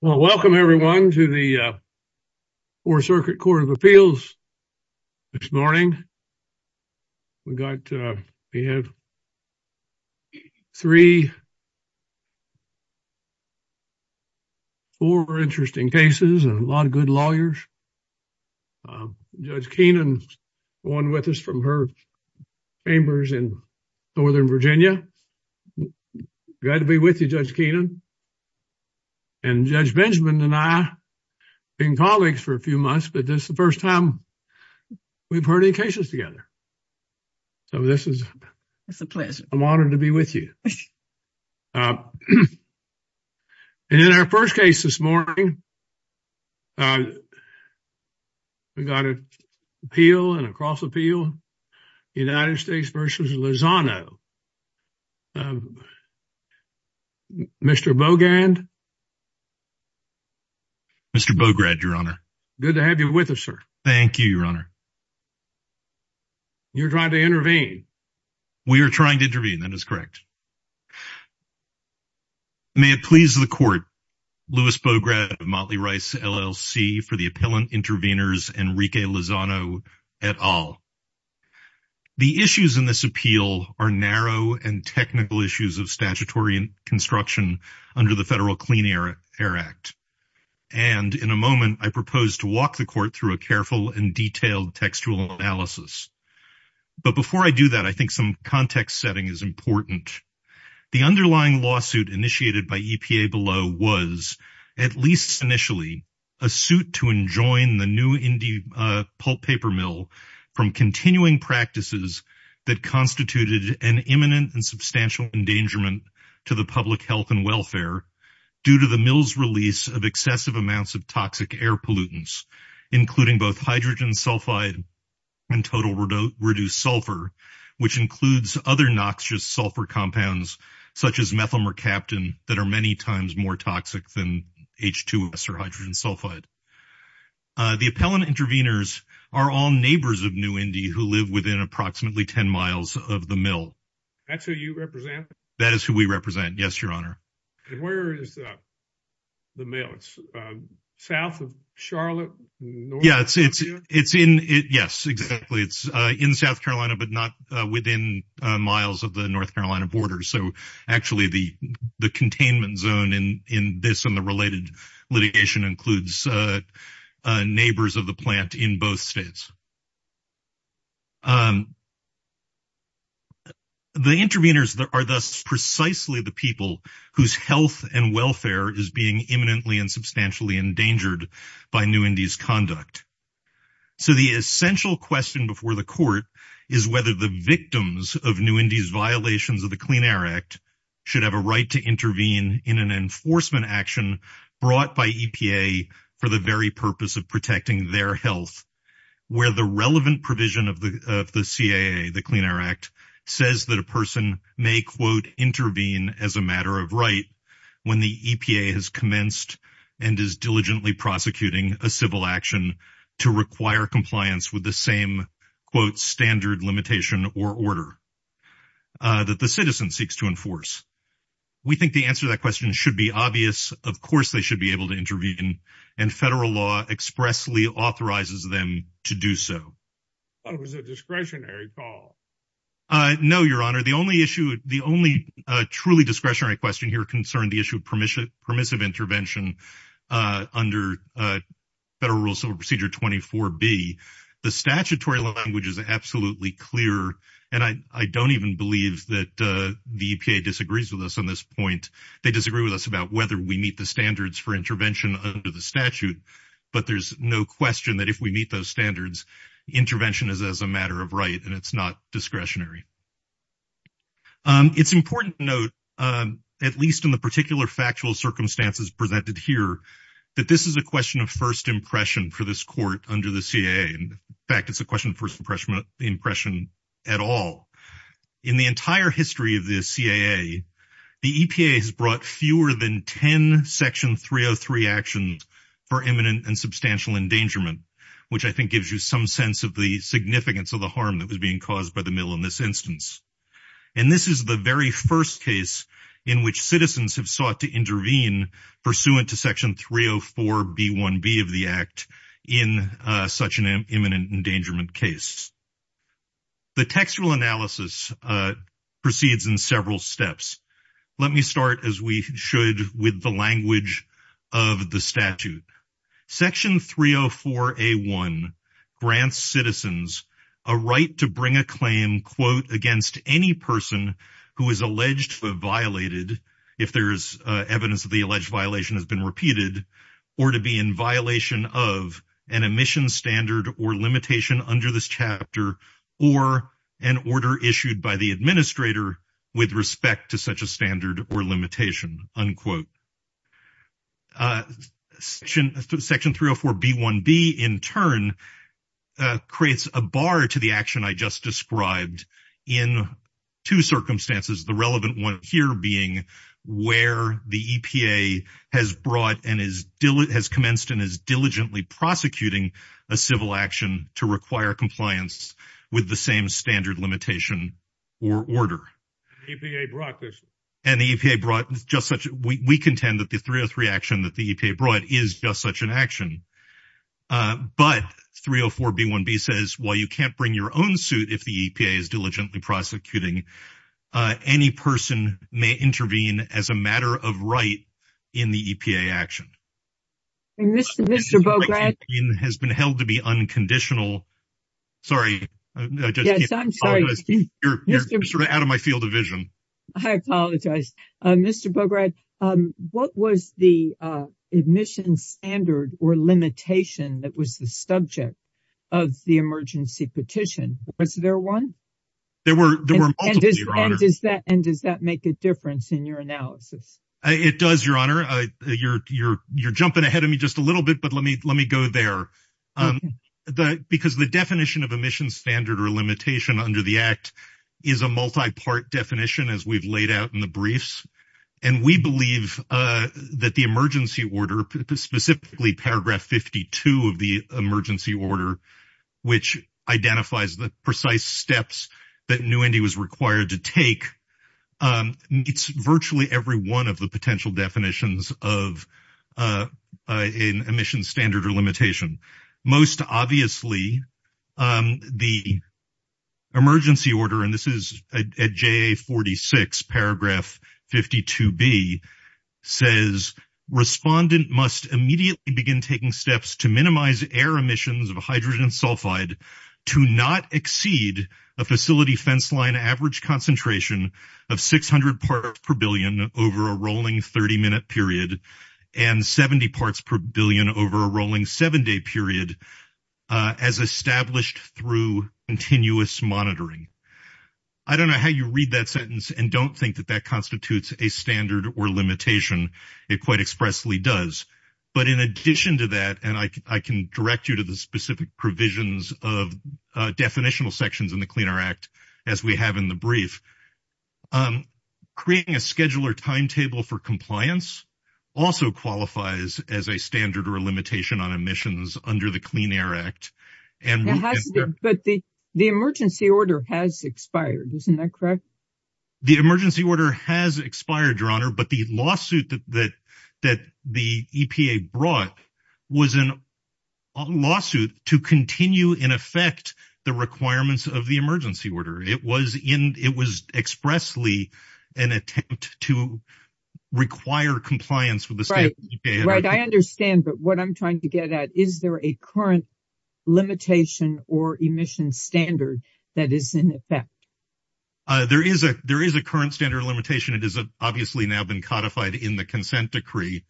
Well, welcome everyone to the 4th Circuit Court of Appeals. This morning, we got we have. 34 interesting cases and a lot of good lawyers. Judge Kenan 1 with us from her. Chambers in northern Virginia. Glad to be with you, Judge Kenan. And Judge Benjamin and I in colleagues for a few months, but this is the 1st time. We've heard any cases together, so this is it's a pleasure. I'm honored to be with you. And in our 1st case this morning. We got it. Appeal and across appeal United States versus Lizano. Mr. Bogand. Mr. Bograd, your honor. Good to have you with us, sir. Thank you, your honor. You're trying to intervene. We are trying to intervene that is correct. May it please the court. Louis Bograd Motley Rice LLC for the appellant intervenors, Enrique Lizano at all. The issues in this appeal are narrow and technical issues of statutory construction under the Federal Clean Air Act. And in a moment, I propose to walk the court through a careful and detailed textual analysis. But before I do that, I think some context setting is important. The underlying lawsuit initiated by EPA below was at least initially. A suit to enjoin the new indie pulp paper mill from continuing practices that constituted an imminent and substantial endangerment to the public health and welfare. Due to the mills release of excessive amounts of toxic air pollutants, including both hydrogen sulfide. And total reduced sulfur, which includes other noxious sulfur compounds such as methylmercaptan that are many times more toxic than H2 or hydrogen sulfide. The appellant intervenors are all neighbors of new Indy who live within approximately 10 miles of the mill. That's who you represent that is who we represent. Yes, your honor. And where is the mail? It's south of Charlotte. Yeah, it's it's it's in it. Yes, exactly. It's in South Carolina, but not within miles of the North Carolina border. So actually, the the containment zone in in this and the related litigation includes neighbors of the plant in both states. The intervenors are thus precisely the people whose health and welfare is being imminently and substantially endangered by new Indy's conduct. So, the essential question before the court is whether the victims of new Indy's violations of the Clean Air Act. Should have a right to intervene in an enforcement action brought by EPA for the very purpose of protecting their health. Where the relevant provision of the of the CAA, the Clean Air Act, says that a person may, quote, intervene as a matter of right when the EPA has commenced and is diligently prosecuting a civil action to require compliance with the same, quote, standard limitation or order that the citizen seeks to enforce. We think the answer to that question should be obvious. Of course, they should be able to intervene. And federal law expressly authorizes them to do so. But it was a discretionary call. No, your honor. The only issue, the only truly discretionary question here concerned the issue of permission, permissive intervention under federal rules of procedure. Twenty four B, the statutory language is absolutely clear. And I don't even believe that the EPA disagrees with us on this point. They disagree with us about whether we meet the standards for intervention under the statute. But there's no question that if we meet those standards, intervention is as a matter of right and it's not discretionary. It's important to note, at least in the particular factual circumstances presented here, that this is a question of first impression for this court under the CIA. In fact, it's a question of first impression impression at all in the entire history of the CIA. The EPA has brought fewer than 10 Section 303 actions for imminent and substantial endangerment, which I think gives you some sense of the significance of the harm that was being caused by the mill in this instance. And this is the very first case in which citizens have sought to intervene pursuant to Section 304 B1B of the act in such an imminent endangerment case. The textual analysis proceeds in several steps. Let me start, as we should, with the language of the statute. Section 304 A1 grants citizens a right to bring a claim, quote, against any person who is alleged to have violated, if there is evidence that the alleged violation has been repeated, or to be in violation of an emission standard or limitation under this chapter or an order issued by the administrator with respect to such a standard or limitation, unquote. Section 304 B1B, in turn, creates a bar to the action I just described in two circumstances, the relevant one here being where the EPA has brought and has commenced and is diligently prosecuting a civil action to require compliance with the same standard limitation or order. And the EPA brought just such – we contend that the 303 action that the EPA brought is just such an action. But 304 B1B says, while you can't bring your own suit if the EPA is diligently prosecuting, any person may intervene as a matter of right in the EPA action. Mr. Bograd? It has been held to be unconditional. Sorry. Yes, I'm sorry. You're sort of out of my field of vision. I apologize. Mr. Bograd, what was the emission standard or limitation that was the subject of the emergency petition? Was there one? There were multiple, Your Honor. And does that make a difference in your analysis? It does, Your Honor. You're jumping ahead of me just a little bit, but let me go there. Because the definition of emission standard or limitation under the Act is a multi-part definition, as we've laid out in the briefs. And we believe that the emergency order, specifically paragraph 52 of the emergency order, which identifies the precise steps that New Indy was required to take, meets virtually every one of the potential definitions of an emission standard or limitation. Most obviously, the emergency order, and this is at JA 46, paragraph 52B, says, Respondent must immediately begin taking steps to minimize air emissions of hydrogen sulfide to not exceed a facility fence line average concentration of 600 parts per billion over a rolling 30-minute period, and 70 parts per billion over a rolling seven-day period, as established through continuous monitoring. I don't know how you read that sentence and don't think that that constitutes a standard or limitation. It quite expressly does. But in addition to that, and I can direct you to the specific provisions of definitional sections in the Clean Air Act, as we have in the brief, creating a scheduler timetable for compliance also qualifies as a standard or limitation on emissions under the Clean Air Act. But the emergency order has expired, isn't that correct? The emergency order has expired, Your Honor, but the lawsuit that the EPA brought was a lawsuit to continue in effect the requirements of the emergency order. It was expressly an attempt to require compliance with the standard. Right, I understand, but what I'm trying to get at, is there a current limitation or emission standard that is in effect? There is a current standard limitation. It has obviously now been codified in the consent decree.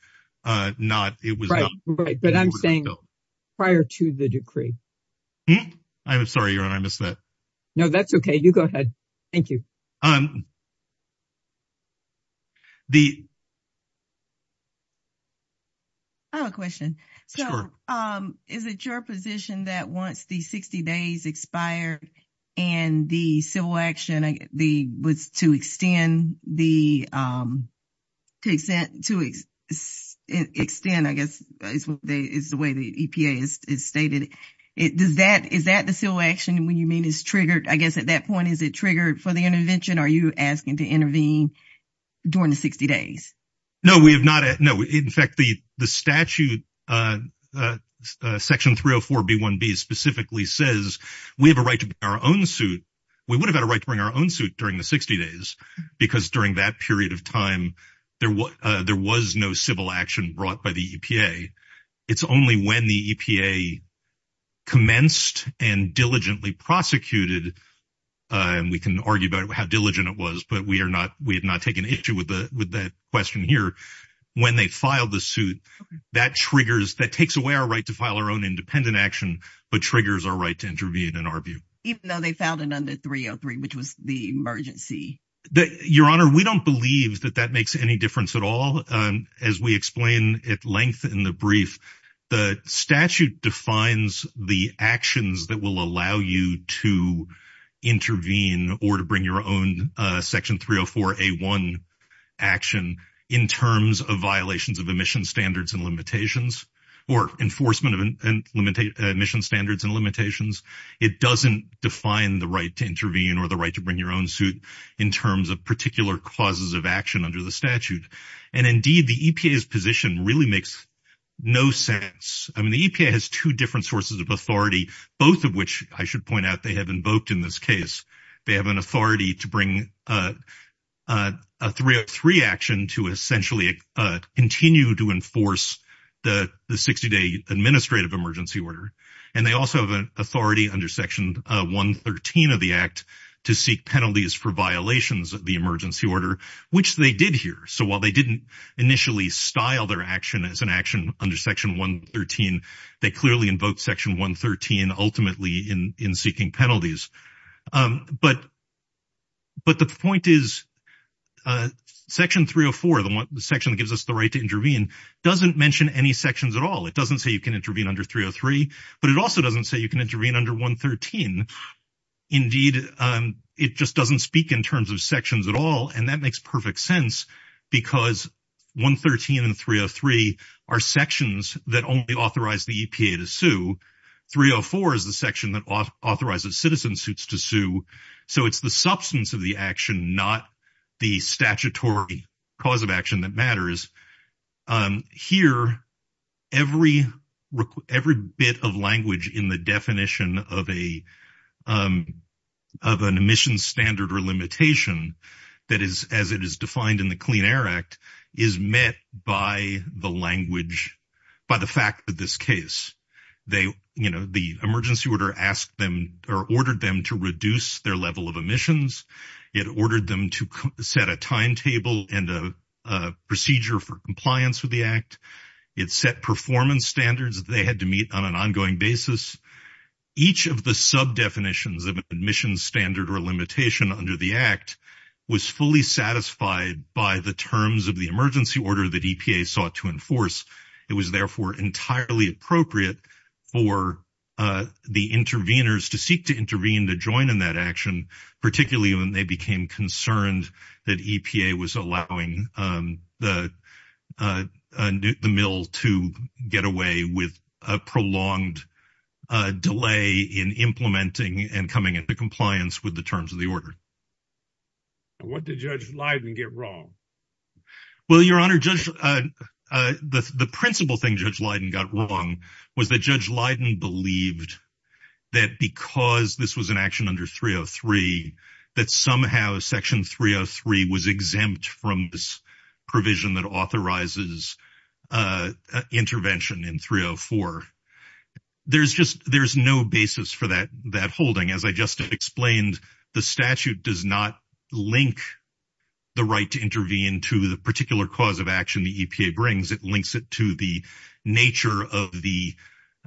Right, but I'm saying prior to the decree. I'm sorry, Your Honor, I missed that. No, that's okay. You go ahead. Thank you. I have a question. Sure. Is it your position that once the 60 days expired and the civil action was to extend, I guess is the way the EPA has stated, is that the civil action when you mean is triggered, I guess at that point, is it triggered for the intervention? Are you asking to intervene during the 60 days? No, we have not. No, in fact, the statute section 304B1B specifically says we have a right to our own suit. We would have had a right to bring our own suit during the 60 days because during that period of time, there was no civil action brought by the EPA. It's only when the EPA commenced and diligently prosecuted, and we can argue about how diligent it was, but we have not taken issue with that question here. When they filed the suit, that triggers, that takes away our right to file our own independent action, but triggers our right to intervene and argue. Even though they filed it under 303, which was the emergency. Your Honor, we don't believe that that makes any difference at all. As we explain at length in the brief, the statute defines the actions that will allow you to intervene or to bring your own section 304A1 action in terms of violations of emission standards and limitations or enforcement of emission standards and limitations. It doesn't define the right to intervene or the right to bring your own suit in terms of particular causes of action under the statute. And indeed, the EPA's position really makes no sense. I mean, the EPA has two different sources of authority, both of which I should point out they have invoked in this case. They have an authority to bring a 303 action to essentially continue to enforce the 60-day administrative emergency order. And they also have an authority under Section 113 of the Act to seek penalties for violations of the emergency order, which they did here. So while they didn't initially style their action as an action under Section 113, they clearly invoked Section 113 ultimately in seeking penalties. But the point is Section 304, the section that gives us the right to intervene, doesn't mention any sections at all. It doesn't say you can intervene under 303, but it also doesn't say you can intervene under 113. Indeed, it just doesn't speak in terms of sections at all, and that makes perfect sense because 113 and 303 are sections that only authorize the EPA to sue. 304 is the section that authorizes citizens to sue. So it's the substance of the action, not the statutory cause of action that matters. Here, every bit of language in the definition of an emission standard or limitation that is as it is defined in the Clean Air Act is met by the language, by the fact that this case, they, you know, the emergency order asked them or ordered them to reduce their level of emissions. It ordered them to set a timetable and a procedure for compliance with the Act. It set performance standards they had to meet on an ongoing basis. Each of the sub-definitions of an emissions standard or limitation under the Act was fully satisfied by the terms of the emergency order that EPA sought to enforce. It was therefore entirely appropriate for the interveners to seek to intervene, to join in that action, particularly when they became concerned that EPA was allowing the mill to get away with a prolonged delay in implementing and coming into compliance with the terms of the order. What did Judge Leiden get wrong? Well, Your Honor, the principal thing Judge Leiden got wrong was that Judge Leiden believed that because this was an action under 303, that somehow Section 303 was exempt from this provision that authorizes intervention in 304. There's just, there's no basis for that holding. As I just explained, the statute does not link the right to intervene to the particular cause of action the EPA brings. It links it to the nature of the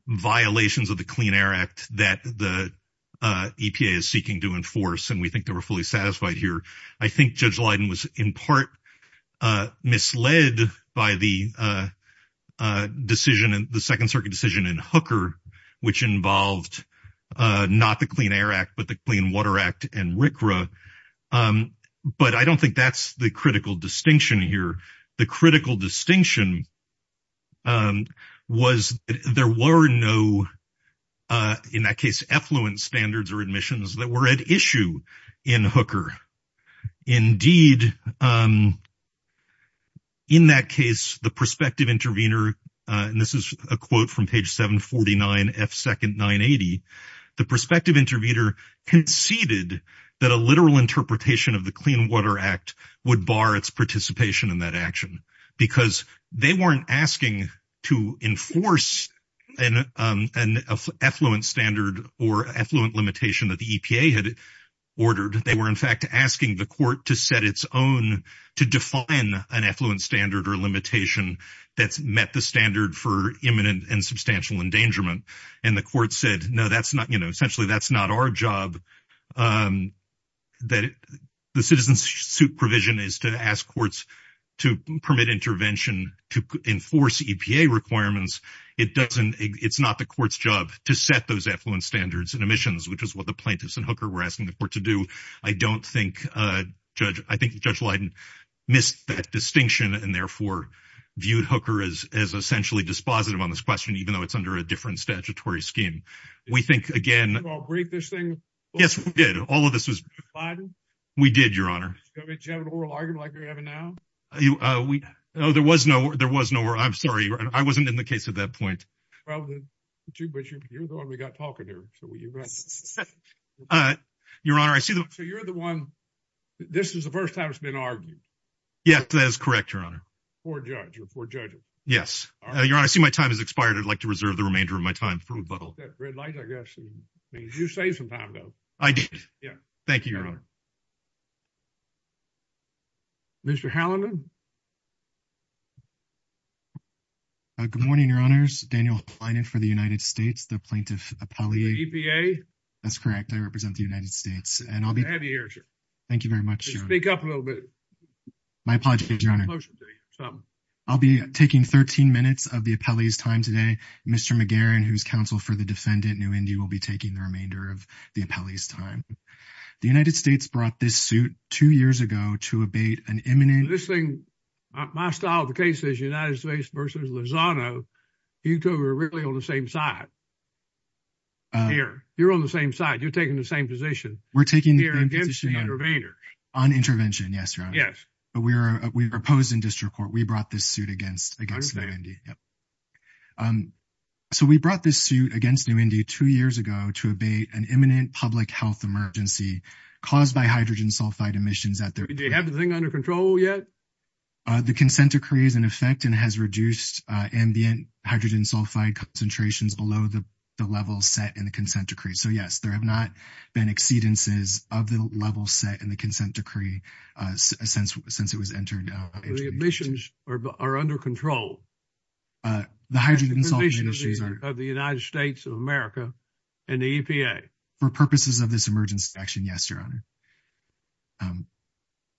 violations of the Clean Air Act that the EPA is seeking to enforce, and we think they were fully satisfied here. I think Judge Leiden was in part misled by the decision, the Second Circuit decision in Hooker, which involved not the Clean Air Act, but the Clean Water Act and RCRA, but I don't think that's the critical distinction here. The critical distinction was there were no, in that case, effluent standards or admissions that were at issue in Hooker. Indeed, in that case, the prospective intervener, and this is a quote from page 749F2nd980, the prospective intervener conceded that a literal interpretation of the Clean Water Act would bar its participation in that action because they weren't asking to enforce an effluent standard or effluent limitation that the EPA had ordered. They were, in fact, asking the court to set its own, to define an effluent standard or limitation that's met the standard for imminent and substantial endangerment, and the court said, no, that's not, you know, essentially that's not our job. That the citizen's supervision is to ask courts to permit intervention to enforce EPA requirements. It doesn't, it's not the court's job to set those effluent standards and emissions, which is what the plaintiffs in Hooker were asking the court to do. I don't think Judge, I think Judge Leiden missed that distinction and therefore viewed Hooker as essentially dispositive on this question, even though it's under a different statutory scheme. We think, again. Did you all agree to this thing? Yes, we did. All of this was. Judge Leiden? We did, Your Honor. Did you have an oral argument like you're having now? We, no, there was no, there was no, I'm sorry. I wasn't in the case at that point. Well, but you're the one we got talking here. Your Honor, I see. So you're the one, this is the first time it's been argued. Yes, that is correct, Your Honor. Before a judge or before judges. Yes. Your Honor, I see my time has expired. I'd like to reserve the remainder of my time for rebuttal. Red light, I guess. You saved some time, though. I did. Yeah. Thank you, Your Honor. Mr. Hallinan? Good morning, Your Honors. Daniel Hallinan for the United States, the plaintiff appellee. EPA? That's correct. I represent the United States and I'll be. Thank you very much, Your Honor. Speak up a little bit. My apologies, Your Honor. I'll be taking 13 minutes of the appellee's time today. Mr. McGarren, who's counsel for the defendant, New Indy, will be taking the remainder of the appellee's time. The United States brought this suit two years ago to abate an imminent. This thing, my style of the case is United States versus Lozano. You two are really on the same side here. You're on the same side. You're taking the same position. We're taking the same position. On intervention, yes, Your Honor. Yes. But we're opposed in district court. We brought this suit against New Indy. Yep. So we brought this suit against New Indy two years ago to abate an imminent public health emergency caused by hydrogen sulfide emissions. Do you have the thing under control yet? The consent decree is in effect and has reduced ambient hydrogen sulfide concentrations below the level set in the consent decree. So, yes, there have not been exceedances of the level set in the consent decree since it was entered. The emissions are under control. The hydrogen sulfide emissions are. Of the United States of America and the EPA. For purposes of this emergency action, yes, Your Honor.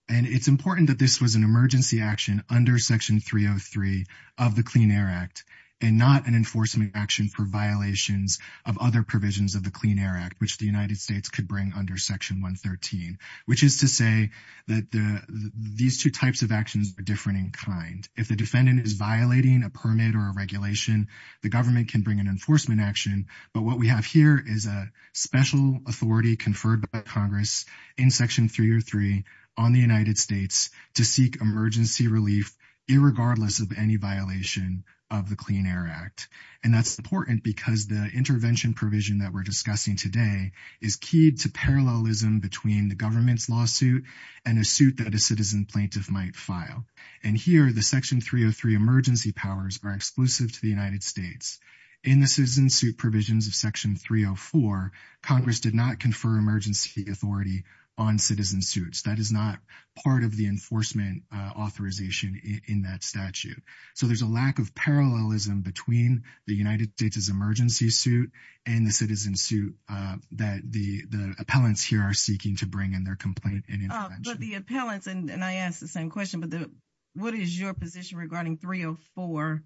And it's important that this was an emergency action under Section 303 of the Clean Air Act and not an enforcement action for violations of other provisions of the Clean Air Act, which the United States could bring under Section 113, which is to say that these two types of actions are different in kind. If the defendant is violating a permit or a regulation, the government can bring an enforcement action. But what we have here is a special authority conferred by Congress in Section 303 on the United States to seek emergency relief, irregardless of any violation of the Clean Air Act. And that's important because the intervention provision that we're talking about here is a lack of parallelism between the government's lawsuit and a suit that a citizen plaintiff might file. And here the Section 303 emergency powers are exclusive to the United States. In the citizen suit provisions of Section 304, Congress did not confer emergency authority on citizen suits. That is not part of the enforcement authorization in that statute. So there's a lack of parallelism between the United States is emergency suit and the citizen suit that the appellants here are seeking to bring in their complaint and intervention. But the appellants, and I asked the same question, but what is your position regarding 304?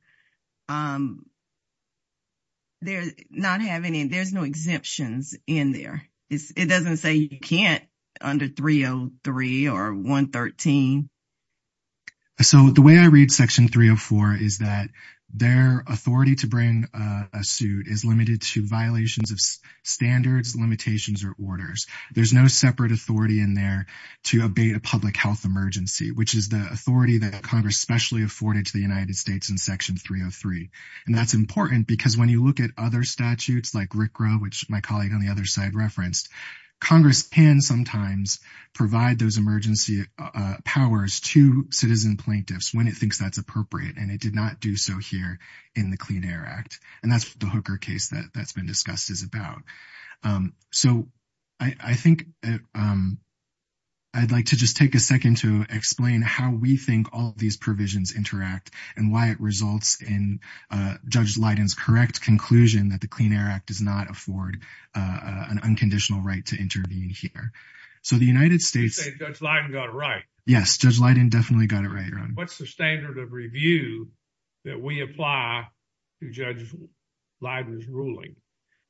They're not having any, there's no exemptions in there. It doesn't say you can't under 303 or 113. So the way I read Section 304 is that their authority to bring a suit is limited to violations of standards, limitations, or orders. There's no separate authority in there to abate a public health emergency, which is the authority that Congress specially afforded to the United States in Section 303. And that's important because when you look at other statutes like RCRA, which my colleague on the other side referenced, Congress can sometimes provide those emergency powers to citizen plaintiffs when it thinks that's appropriate. And it did not do so here in the Clean Air Act. And that's what the Hooker case that's been discussed is about. So I think I'd like to just take a second to explain how we think all of these provisions interact and why it results in Judge Leiden's correct conclusion that the Clean Air Act does not afford an unconditional right to intervene here. So the United States- You say Judge Leiden got it right. Yes, Judge Leiden definitely got it right, Ron. What's the standard of review that we apply to Judge Leiden's ruling?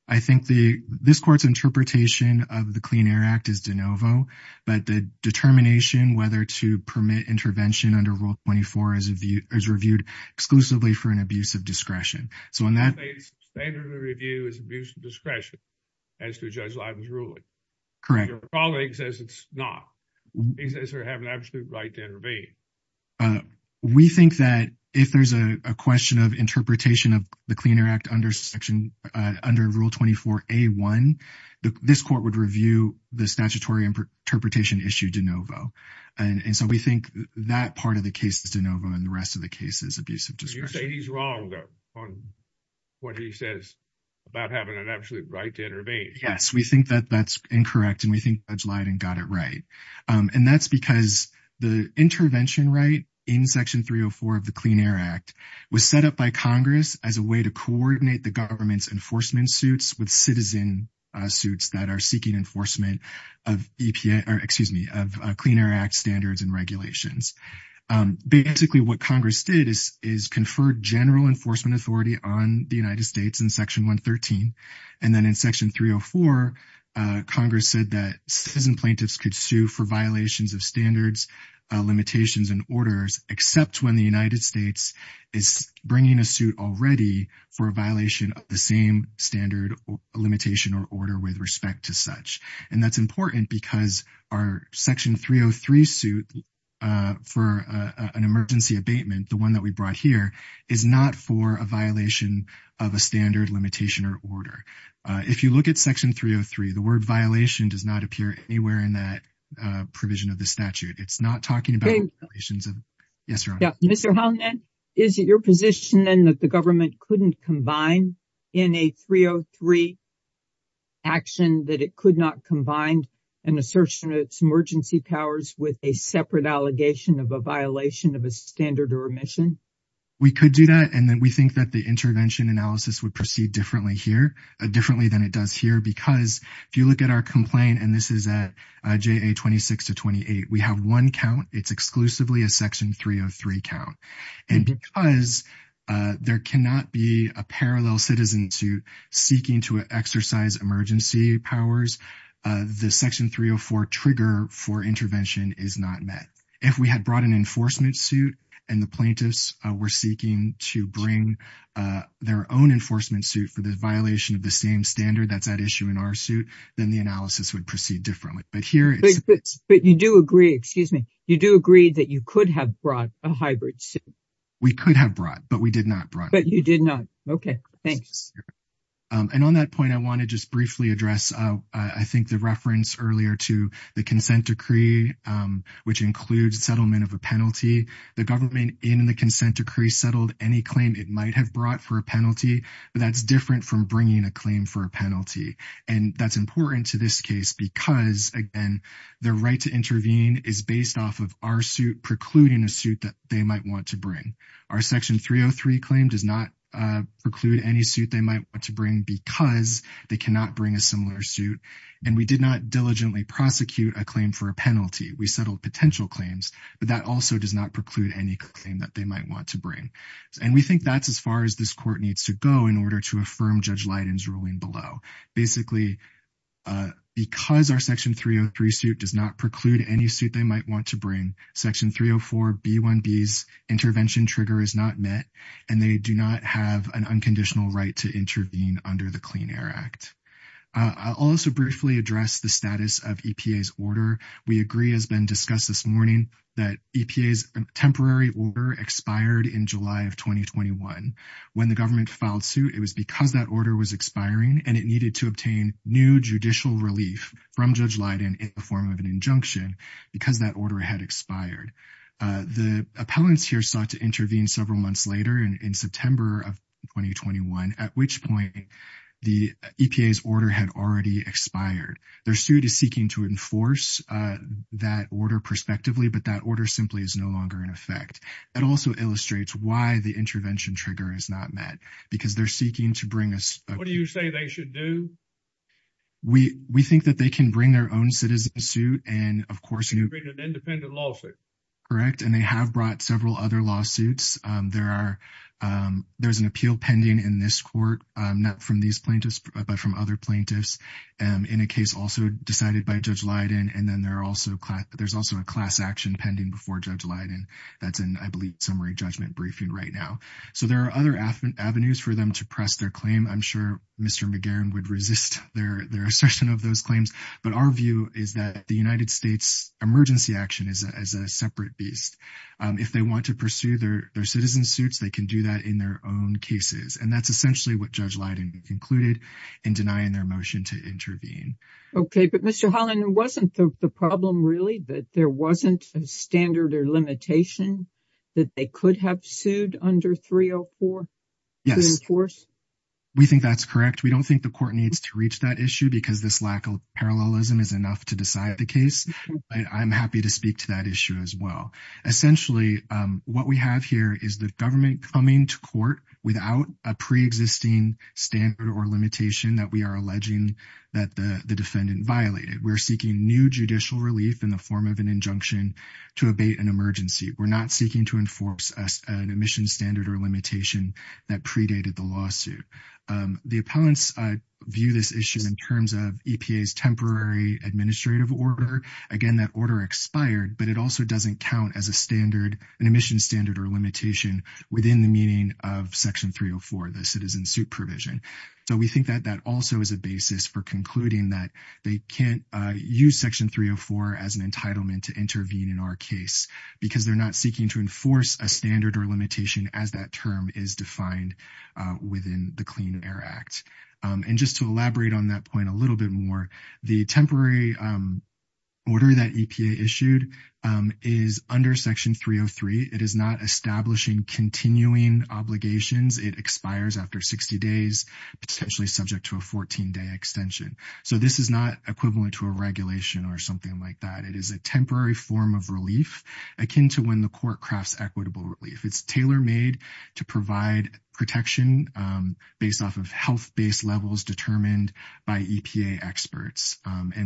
I think this court's interpretation of the Clean Air Act is de novo, but the determination whether to permit intervention under Rule 24 is reviewed exclusively for an abuse of discretion. So in that case, standard of review is abuse of discretion as to Judge Leiden's ruling. Correct. Your colleague says it's not. He says we have an absolute right to intervene. We think that if there's a question of interpretation of the Clean Air Act under Rule 24A1, this court would review the statutory interpretation issue de novo. And so we think that part of the case is de novo and the rest of the case is abuse of discretion. You say he's wrong on what he says about having an absolute right to intervene. Yes, we think that that's incorrect and we think Judge Leiden got it right. And that's because the intervention right in Section 304 of the Clean Air Act was set up by Congress as a way to coordinate the government's enforcement suits with citizen suits that are seeking enforcement of EPA or, excuse me, of Clean Air Act standards and regulations. Basically what Congress did is confer general enforcement authority on the United States in Section 113, and then in Section 304, Congress said that citizen plaintiffs could sue for violations of standards, limitations, and orders, except when the United States is bringing a suit already for a violation of the same standard limitation or order with respect to such. And that's important because our Section 303 suit for an emergency abatement, the one that we brought here, is not for a violation of a standard limitation or order. If you look at Section 303, the word violation does not appear anywhere in that provision of the statute. It's not talking about- Great. Yes, Your Honor. Yeah. Mr. Hallinan, is it your position then that the government couldn't combine in a 303 action that it could not combine an assertion of its emergency powers with a separate allegation of a violation of a standard or omission? We could do that. And then we think that the intervention analysis would proceed differently here, differently than it does here. Because if you look at our complaint, and this is at JA 26 to 28, we have one count. It's exclusively a Section 303 count. And because there cannot be a parallel citizen suit seeking to exercise emergency powers, the Section 304 trigger for intervention is not met. If we had brought an enforcement suit, and the plaintiffs were seeking to bring their own enforcement suit for the violation of the same standard that's at issue in our suit, then the analysis would proceed differently. But here- But you do agree, excuse me. You do agree that you could have brought a hybrid suit. We could have brought, but we did not brought. But you did not. Okay. Thanks. And on that point, I want to just briefly address, I think the reference earlier to the consent decree, which includes settlement of a penalty. The government in the consent decree settled any claim it might have brought for a penalty. But that's different from bringing a claim for a penalty. And that's important to this case because, again, their right to intervene is based off of our suit precluding a suit that they might want to bring. Our Section 303 claim does not preclude any suit they might want to bring because they cannot bring a similar suit. And we did not diligently prosecute a claim for a penalty. We settled potential claims, but that also does not preclude any claim that they might want to bring. And we think that's as far as this court needs to go in order to affirm Judge Leiden's ruling below. Basically, because our Section 303 suit does not preclude any suit they might want to bring, Section 304B1B's intervention trigger is not met, and they do not have an unconditional right to intervene under the Clean Air Act. I'll also briefly address the status of EPA's order. We agree, as been discussed this morning, that EPA's temporary order expired in July of 2021. When the government filed suit, it was because that order was expiring, and it needed to obtain new judicial relief from Judge Leiden in the form of an injunction because that order had expired. The appellants here sought to intervene several months later in September of 2021, at which point the EPA's order had already expired. Their suit is seeking to enforce that order prospectively, but that order simply is no longer in effect. It also illustrates why the intervention trigger is not met, because they're seeking to bring a- What do you say they should do? We think that they can bring their own citizen suit, and of course- They can bring an independent lawsuit. Correct, and they have brought several other lawsuits. There's an appeal pending in this court, not from these plaintiffs, but from other plaintiffs, in a case also decided by Judge Leiden, and then there's also a class action pending before Judge Leiden. That's in, I believe, summary judgment briefing right now. So there are other avenues for them to press their claim. I'm sure Mr. McGarren would resist their assertion of those claims, but our view is that the United States emergency action is a separate beast. If they want to pursue their citizen suits, they can do that in their own cases, and that's essentially what Judge Leiden concluded in denying their motion to intervene. Okay, but Mr. Holland, wasn't the problem really that there wasn't a standard or limitation that they could have sued under 304 to enforce? Yes, we think that's correct. We don't think the court needs to reach that issue because this lack of parallelism is enough to decide the case, but I'm happy to speak to that issue as well. Essentially, what we have here is the government coming to court without a preexisting standard or limitation that we are alleging that the defendant violated. We're seeking new judicial relief in the form of an injunction to abate an emergency. We're not seeking to enforce an emission standard or limitation that predated the lawsuit. The appellants view this issue in terms of EPA's temporary administrative order. Again, that order expired, but it also doesn't count as an emission standard or limitation within the meaning of Section 304, the citizen suit provision. We think that that also is a basis for concluding that they can't use Section 304 as an entitlement to intervene in our case because they're not seeking to enforce a standard or limitation as that term is defined within the Clean Air Act. Just to elaborate on that point a little bit more, the temporary order that EPA issued is under Section 303. It is not establishing continuing obligations. It expires after 60 days, potentially subject to a 14-day extension. This is not equivalent to a regulation or something like that. It is a temporary form of relief akin to when the court crafts equitable relief. It's tailor-made to provide protection based off of health-based levels determined by EPA experts.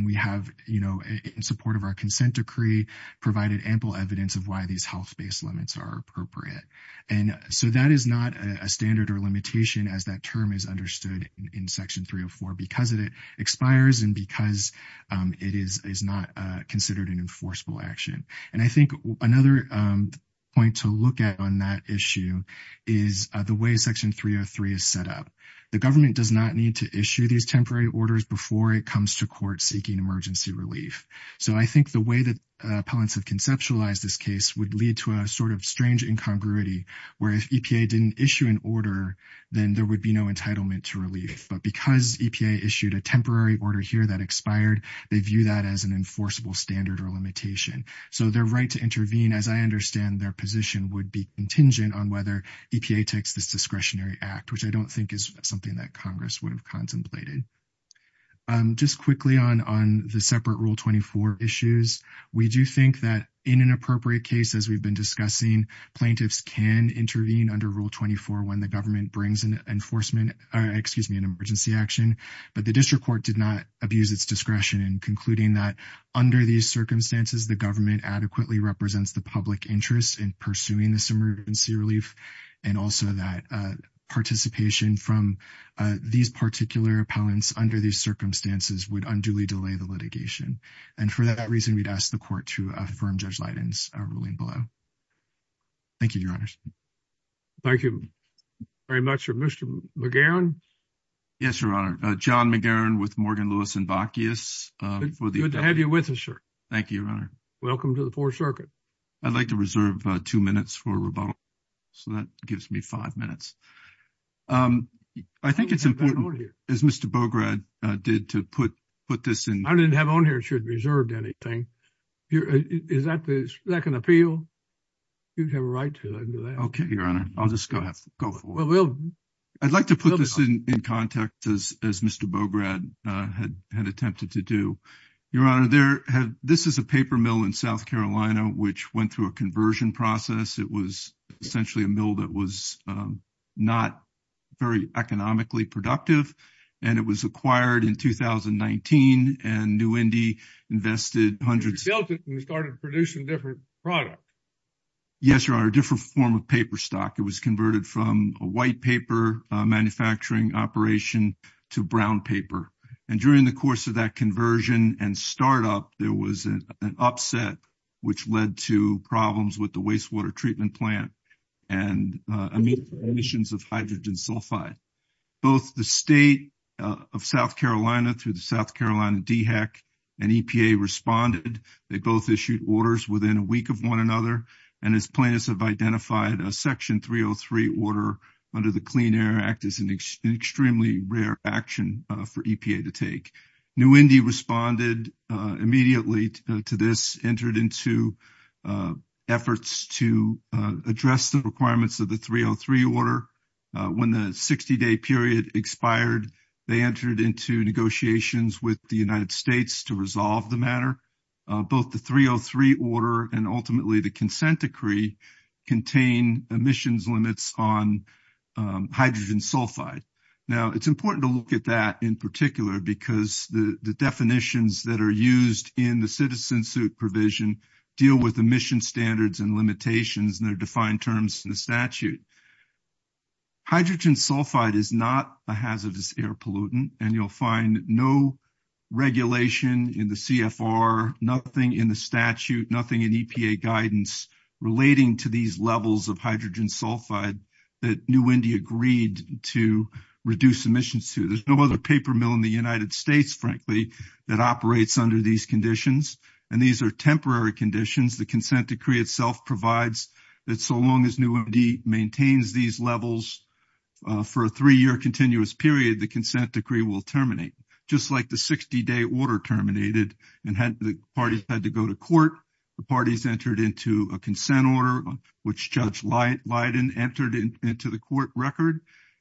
We have, in support of our consent decree, provided ample evidence of why these health-based limits are appropriate. That is not a standard or limitation as that term is understood in Section 304 because it expires and because it is not considered an enforceable action. I think another point to look at on that issue is the way Section 303 is set up. The government does not need to issue these temporary orders before it comes to court seeking emergency relief. I think the way that appellants have conceptualized this case would lead to a sort of strange incongruity where if EPA didn't issue an order, then there would be no entitlement to relief. But because EPA issued a temporary order here that expired, they view that as an enforceable standard or limitation. Their right to intervene, as I understand their position, would be contingent on whether EPA takes this discretionary act, which I don't think is something that Congress would have contemplated. Just quickly on the separate Rule 24 issues, we do think that in an appropriate case, as we've been discussing, plaintiffs can intervene under Rule 24 when the government brings an enforcement... excuse me, an emergency action, but the district court did not abuse its discretion in concluding that under these circumstances, the government adequately represents the public interest in pursuing this emergency relief, and also that participation from these particular appellants under these circumstances would unduly delay the litigation. And for that reason, we'd ask the court to affirm Judge Leiden's ruling below. Thank you, Your Honor. Thank you very much, sir. Mr. McGarren? Yes, Your Honor. John McGarren with Morgan, Lewis & Bacchius. Good to have you with us, sir. Thank you, Your Honor. Welcome to the Fourth Circuit. I'd like to reserve two minutes for rebuttal, so that gives me five minutes. I think it's important, as Mr. Bograd did, to put this in... I didn't have on here that you had reserved anything. Is that an appeal? You have a right to do that. Okay, Your Honor. I'll just go for it. I'd like to put this in context, as Mr. Bograd had attempted to do. Your Honor, this is a paper mill in South Carolina which went through a conversion process. It was essentially a mill that was not very economically productive, and it was acquired in 2019, and New Indy invested hundreds... It was built and started producing different products. Yes, Your Honor, a different form of paper stock. It was converted from a white paper manufacturing operation to brown paper. And during the course of that conversion and startup, there was an upset which led to problems with the wastewater treatment plant and emissions of hydrogen sulfide. Both the State of South Carolina through the South Carolina DHEC and EPA responded. They both issued orders within a week of one another, and as plaintiffs have identified, a Section 303 order under the Clean Air Act is an extremely rare action for EPA to take. New Indy responded immediately to this, entered into efforts to address the requirements of the 303 order. When the 60-day period expired, they entered into negotiations with the United States to resolve the matter. Both the 303 order and ultimately the consent decree contain emissions limits on hydrogen sulfide. Now, it's important to look at that in particular because the definitions that are used in the citizen suit provision deal with emission standards and limitations in their defined terms in the statute. Hydrogen sulfide is not a hazardous air pollutant, and you'll find no regulation in the CFR, nothing in the statute, nothing in EPA guidance relating to these levels of hydrogen sulfide that New Indy agreed to reduce emissions to. There's no other paper mill in the United States, frankly, that operates under these conditions, and these are temporary conditions. The consent decree itself provides that so long as New Indy maintains these levels for a three-year continuous period, the consent decree will terminate. Just like the 60-day order terminated and the parties had to go to court, the parties entered into a consent order which Judge Leiden entered into the court record,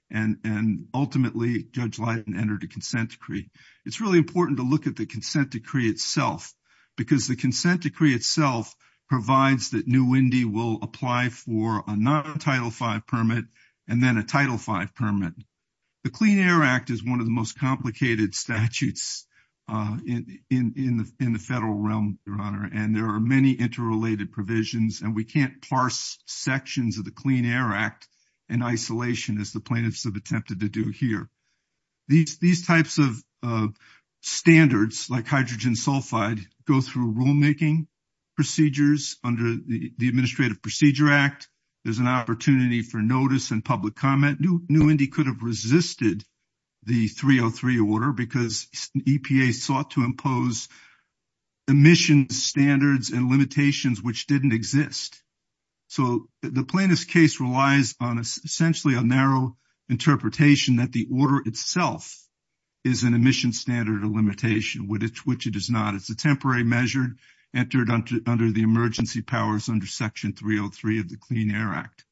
and ultimately, Judge Leiden entered a consent decree. It's really important to look at the consent decree itself because the consent decree itself provides that New Indy will apply for a non-Title V permit and then a Title V permit. The Clean Air Act is one of the most complicated statutes in the federal realm, Your Honor, and there are many interrelated provisions, and we can't parse sections of the Clean Air Act in isolation as the plaintiffs have attempted to do here. These types of standards, like hydrogen sulfide, go through rulemaking procedures under the Administrative Procedure Act. There's an opportunity for notice and public comment. New Indy could have resisted the 303 order because EPA sought to impose emissions standards and limitations which didn't exist. So the plaintiff's case relies on essentially a narrow interpretation that the order itself is an emissions standard or limitation, which it is not. It's a temporary measure entered under the emergency powers under Section 303 of the Clean Air Act.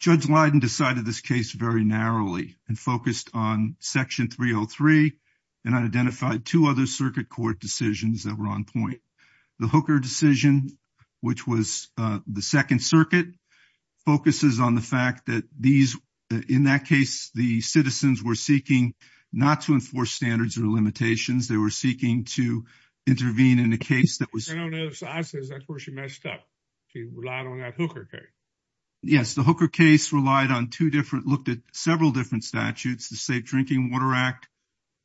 Judge Leiden decided this case very narrowly and focused on Section 303 and identified two other circuit court decisions that were on point. The Hooker decision, which was the Second Circuit, focuses on the fact that these, in that case, the citizens were seeking not to enforce standards or limitations. They were seeking to intervene in a case that was... I don't know. That's where she messed up. She relied on that Hooker case. Yes, the Hooker case relied on two different, looked at several different statutes, the Safe Drinking Water Act,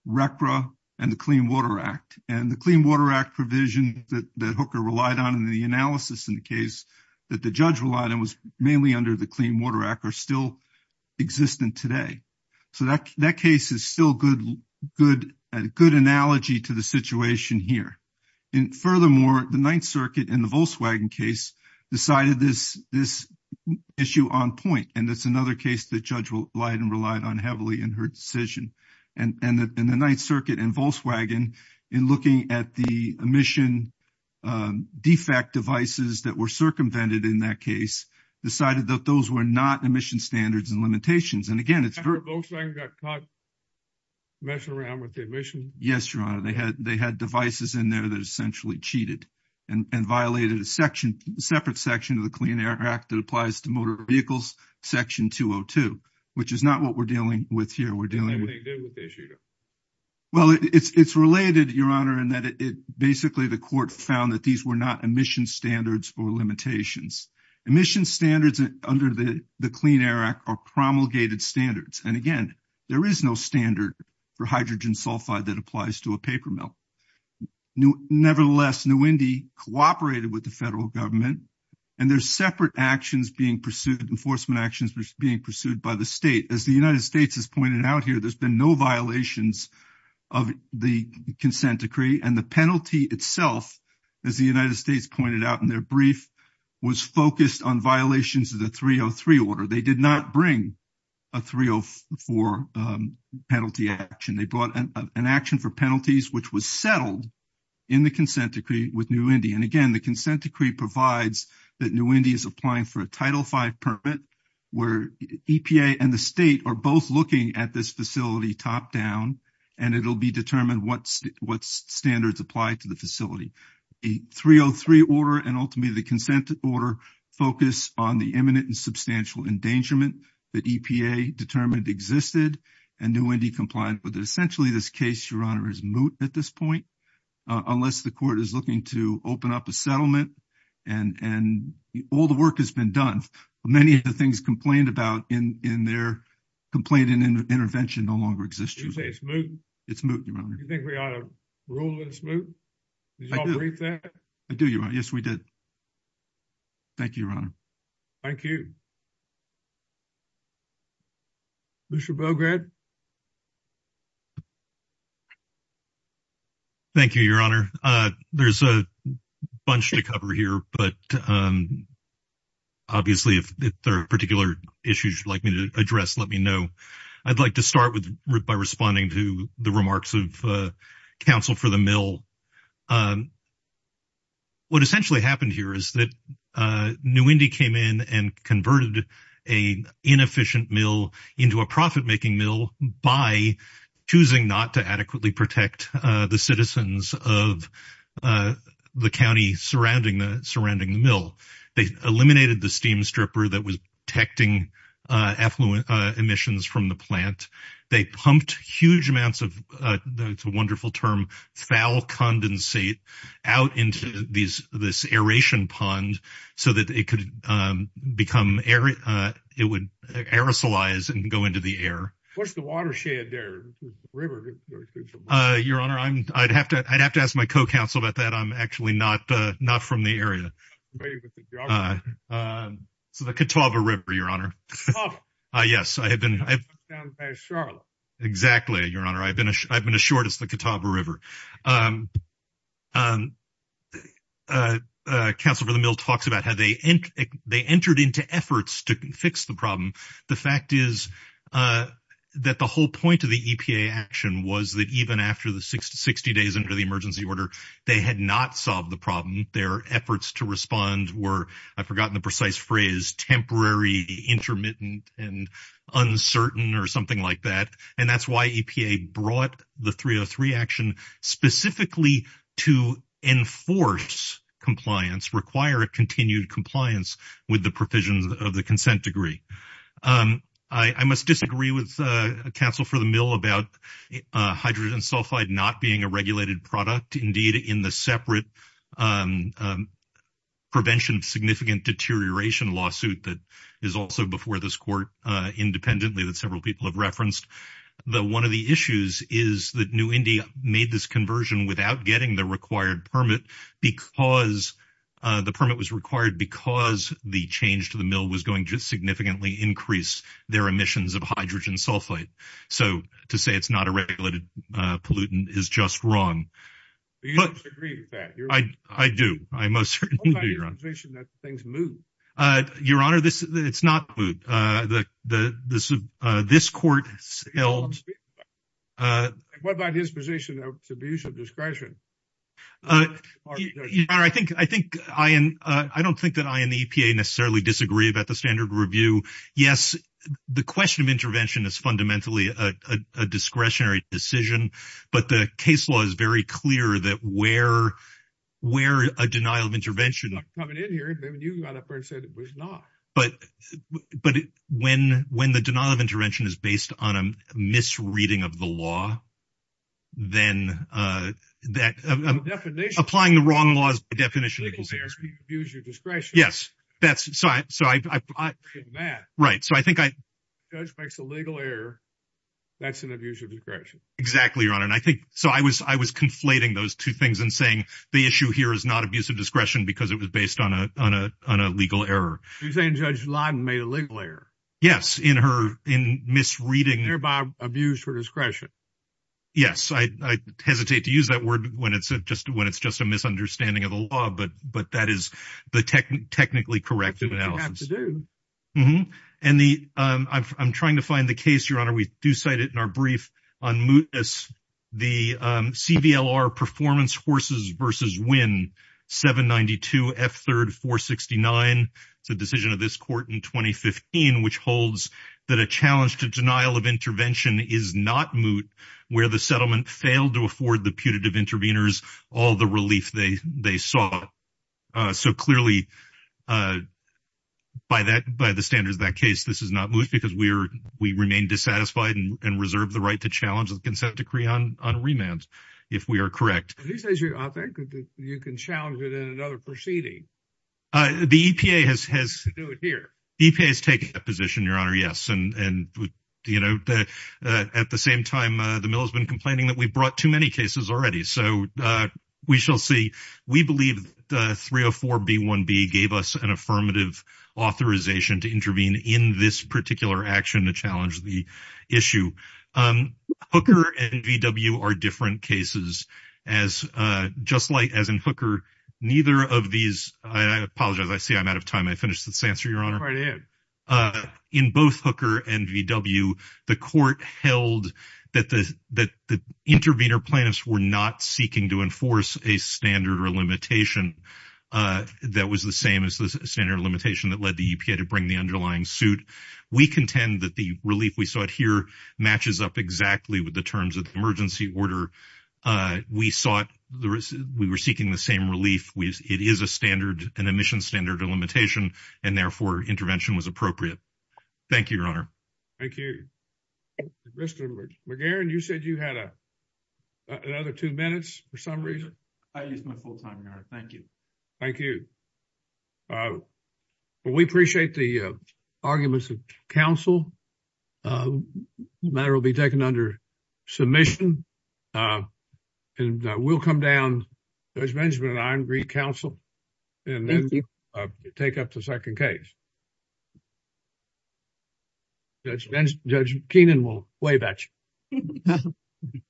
RCRA, and the Clean Water Act, and the Clean Water Act provision that Hooker relied on in the analysis in the case that the judge relied on was mainly under the Clean Water Act or still existent today. So that case is still a good analogy to the situation here. And furthermore, the Ninth Circuit in the Volkswagen case decided this issue on point, and that's another case that Judge Leiden relied on heavily in her decision. And the Ninth Circuit and Volkswagen, in looking at the emission defect devices that were circumvented in that case, decided that those were not emission standards and limitations. And again, it's... Volkswagen got caught messing around with the emission. Yes, Your Honor. They had devices in there that essentially cheated and violated a separate section of the Clean Air Act that applies to motor vehicles, Section 202, which is not what we're dealing with here. Well, it's related, Your Honor, in that basically the court found that these were not emission standards or limitations. Emission standards under the Clean Air Act are promulgated standards. And again, there is no standard for hydrogen sulfide that applies to a paper mill. Nevertheless, New Indy cooperated with the federal government, and there's separate actions being pursued, enforcement actions being pursued by the state. As the United States has pointed out, there's been no violations of the consent decree. And the penalty itself, as the United States pointed out in their brief, was focused on violations of the 303 order. They did not bring a 304 penalty action. They brought an action for penalties which was settled in the consent decree with New Indy. And again, the consent decree provides that New Indy is applying for a Title V permit where EPA and the state are both looking at this facility top down, and it'll be determined what standards apply to the facility. The 303 order and ultimately the consent order focus on the imminent and substantial endangerment that EPA determined existed, and New Indy complied with it. Essentially, this case, Your Honor, is moot at this point, unless the court is looking to open up a settlement. And all the work has been done. Many of the things complained about in their complaint and intervention no longer exist. Did you say it's moot? It's moot, Your Honor. Do you think we ought to rule it's moot? Did you all brief that? I do, Your Honor. Yes, we did. Thank you, Your Honor. Thank you. Commissioner Bograd? Thank you, Your Honor. There's a bunch to cover here, but obviously if there are particular issues you'd like me to address, let me know. I'd like to start by responding to the remarks of counsel for the mill. What essentially happened here is that New Indy came in and converted an inefficient mill into a profit-making mill by choosing not to adequately protect the citizens of the county surrounding the mill. They eliminated the steam stripper that was protecting effluent emissions from the plant. They pumped huge amounts of, it's a wonderful term, foul condensate out into this aeration pond so that it would aerosolize and go into the air. What's the watershed there? Your Honor, I'd have to ask my co-counsel about that. I'm actually not from the area. It's the Catawba River, Your Honor. Catawba? Yes. It's down past Charlotte. Exactly, Your Honor. I've been assured it's the Catawba River. Counsel for the mill talks about how they entered into efforts to fix the problem. The fact is that the whole point of the EPA action was that even after the 60 days under the emergency order, they had not solved the problem. Their efforts to respond were, I've forgotten the precise phrase, temporary, intermittent, and uncertain or something like that. And that's why EPA brought the 303 action specifically to enforce compliance, require continued compliance with the provisions of the consent degree. I must disagree with counsel for the mill about hydrogen sulfide not being a regulated product. Indeed, in the separate prevention of significant deterioration lawsuit that is also before this court independently that several people have referenced. One of the issues is that New India made this conversion without getting the required permit because the permit was required because the change to the mill was going to significantly increase their emissions of hydrogen sulfide. So to say it's not a regulated pollutant is just wrong. Do you disagree with that? I do. I most certainly do, Your Honor. What about your position that things moved? Your Honor, it's not moved. This court held... What about his position of subdued discretion? Your Honor, I don't think that I and the EPA necessarily disagree about the standard review. Yes, the question of intervention is fundamentally a discretionary decision, but the case law is very clear that where a denial of intervention... I'm not coming in here. You got up there and said it was not. But when the denial of intervention is based on a misreading of the law, then that... The definition... Applying the wrong law is the definition of discretion. Use your discretion... Yes. That's... So I... Right. So I think I... If a judge makes a legal error, that's an abuse of discretion. Exactly, Your Honor. And I think... So I was conflating those two things and saying the issue here is not abuse of discretion because it was based on a legal error. You're saying Judge Lyden made a legal error. Yes, in her... In misreading... Thereby abuse her discretion. Yes. I hesitate to use that word when it's just a misunderstanding of the law, but that is the technically correct analysis. Which you have to do. Mm-hmm. And the... I'm trying to find the case, Your Honor. We do cite it in our brief on mootness. The CVLR Performance Horses vs. Winn, 792 F3rd 469. It's a decision of this court in 2015 which holds that a challenge to denial of intervention is not moot where the settlement failed to afford the putative interveners all the relief they sought. So clearly, by the standards of that case, this is not moot because we remain dissatisfied and reserve the right to challenge the consent decree on remand if we are correct. At least, I think, you can challenge it in another proceeding. The EPA has... You can do it here. The EPA has taken that position, Your Honor, yes. And, you know, at the same time, the mill has been complaining that we brought too many cases already. So we shall see. We believe the 304B1B gave us an affirmative authorization to intervene in this particular action to challenge the issue. Hooker and VW are different cases. As just like as in Hooker, neither of these... I apologize. I see I'm out of time. I finished this answer, Your Honor. Right ahead. In both Hooker and VW, the court held that the intervener plaintiffs were not seeking to enforce a standard or limitation that was the same as the standard or limitation that led the EPA to bring the underlying suit. We contend that the relief we sought here matches up exactly with the terms of the emergency order. We sought... We were seeking the same relief. It is a standard, an emission standard or limitation, and, therefore, intervention was appropriate. Thank you, Your Honor. Thank you. Mr. McGarren, you said you had a... Another two minutes for some reason? I used my full time, Your Honor. Thank you. Thank you. We appreciate the arguments of counsel. The matter will be taken under submission. And we'll come down, Judge Benjamin and I, and re-counsel and then take up the second case. Judge Kenan will wave at you. Thank you.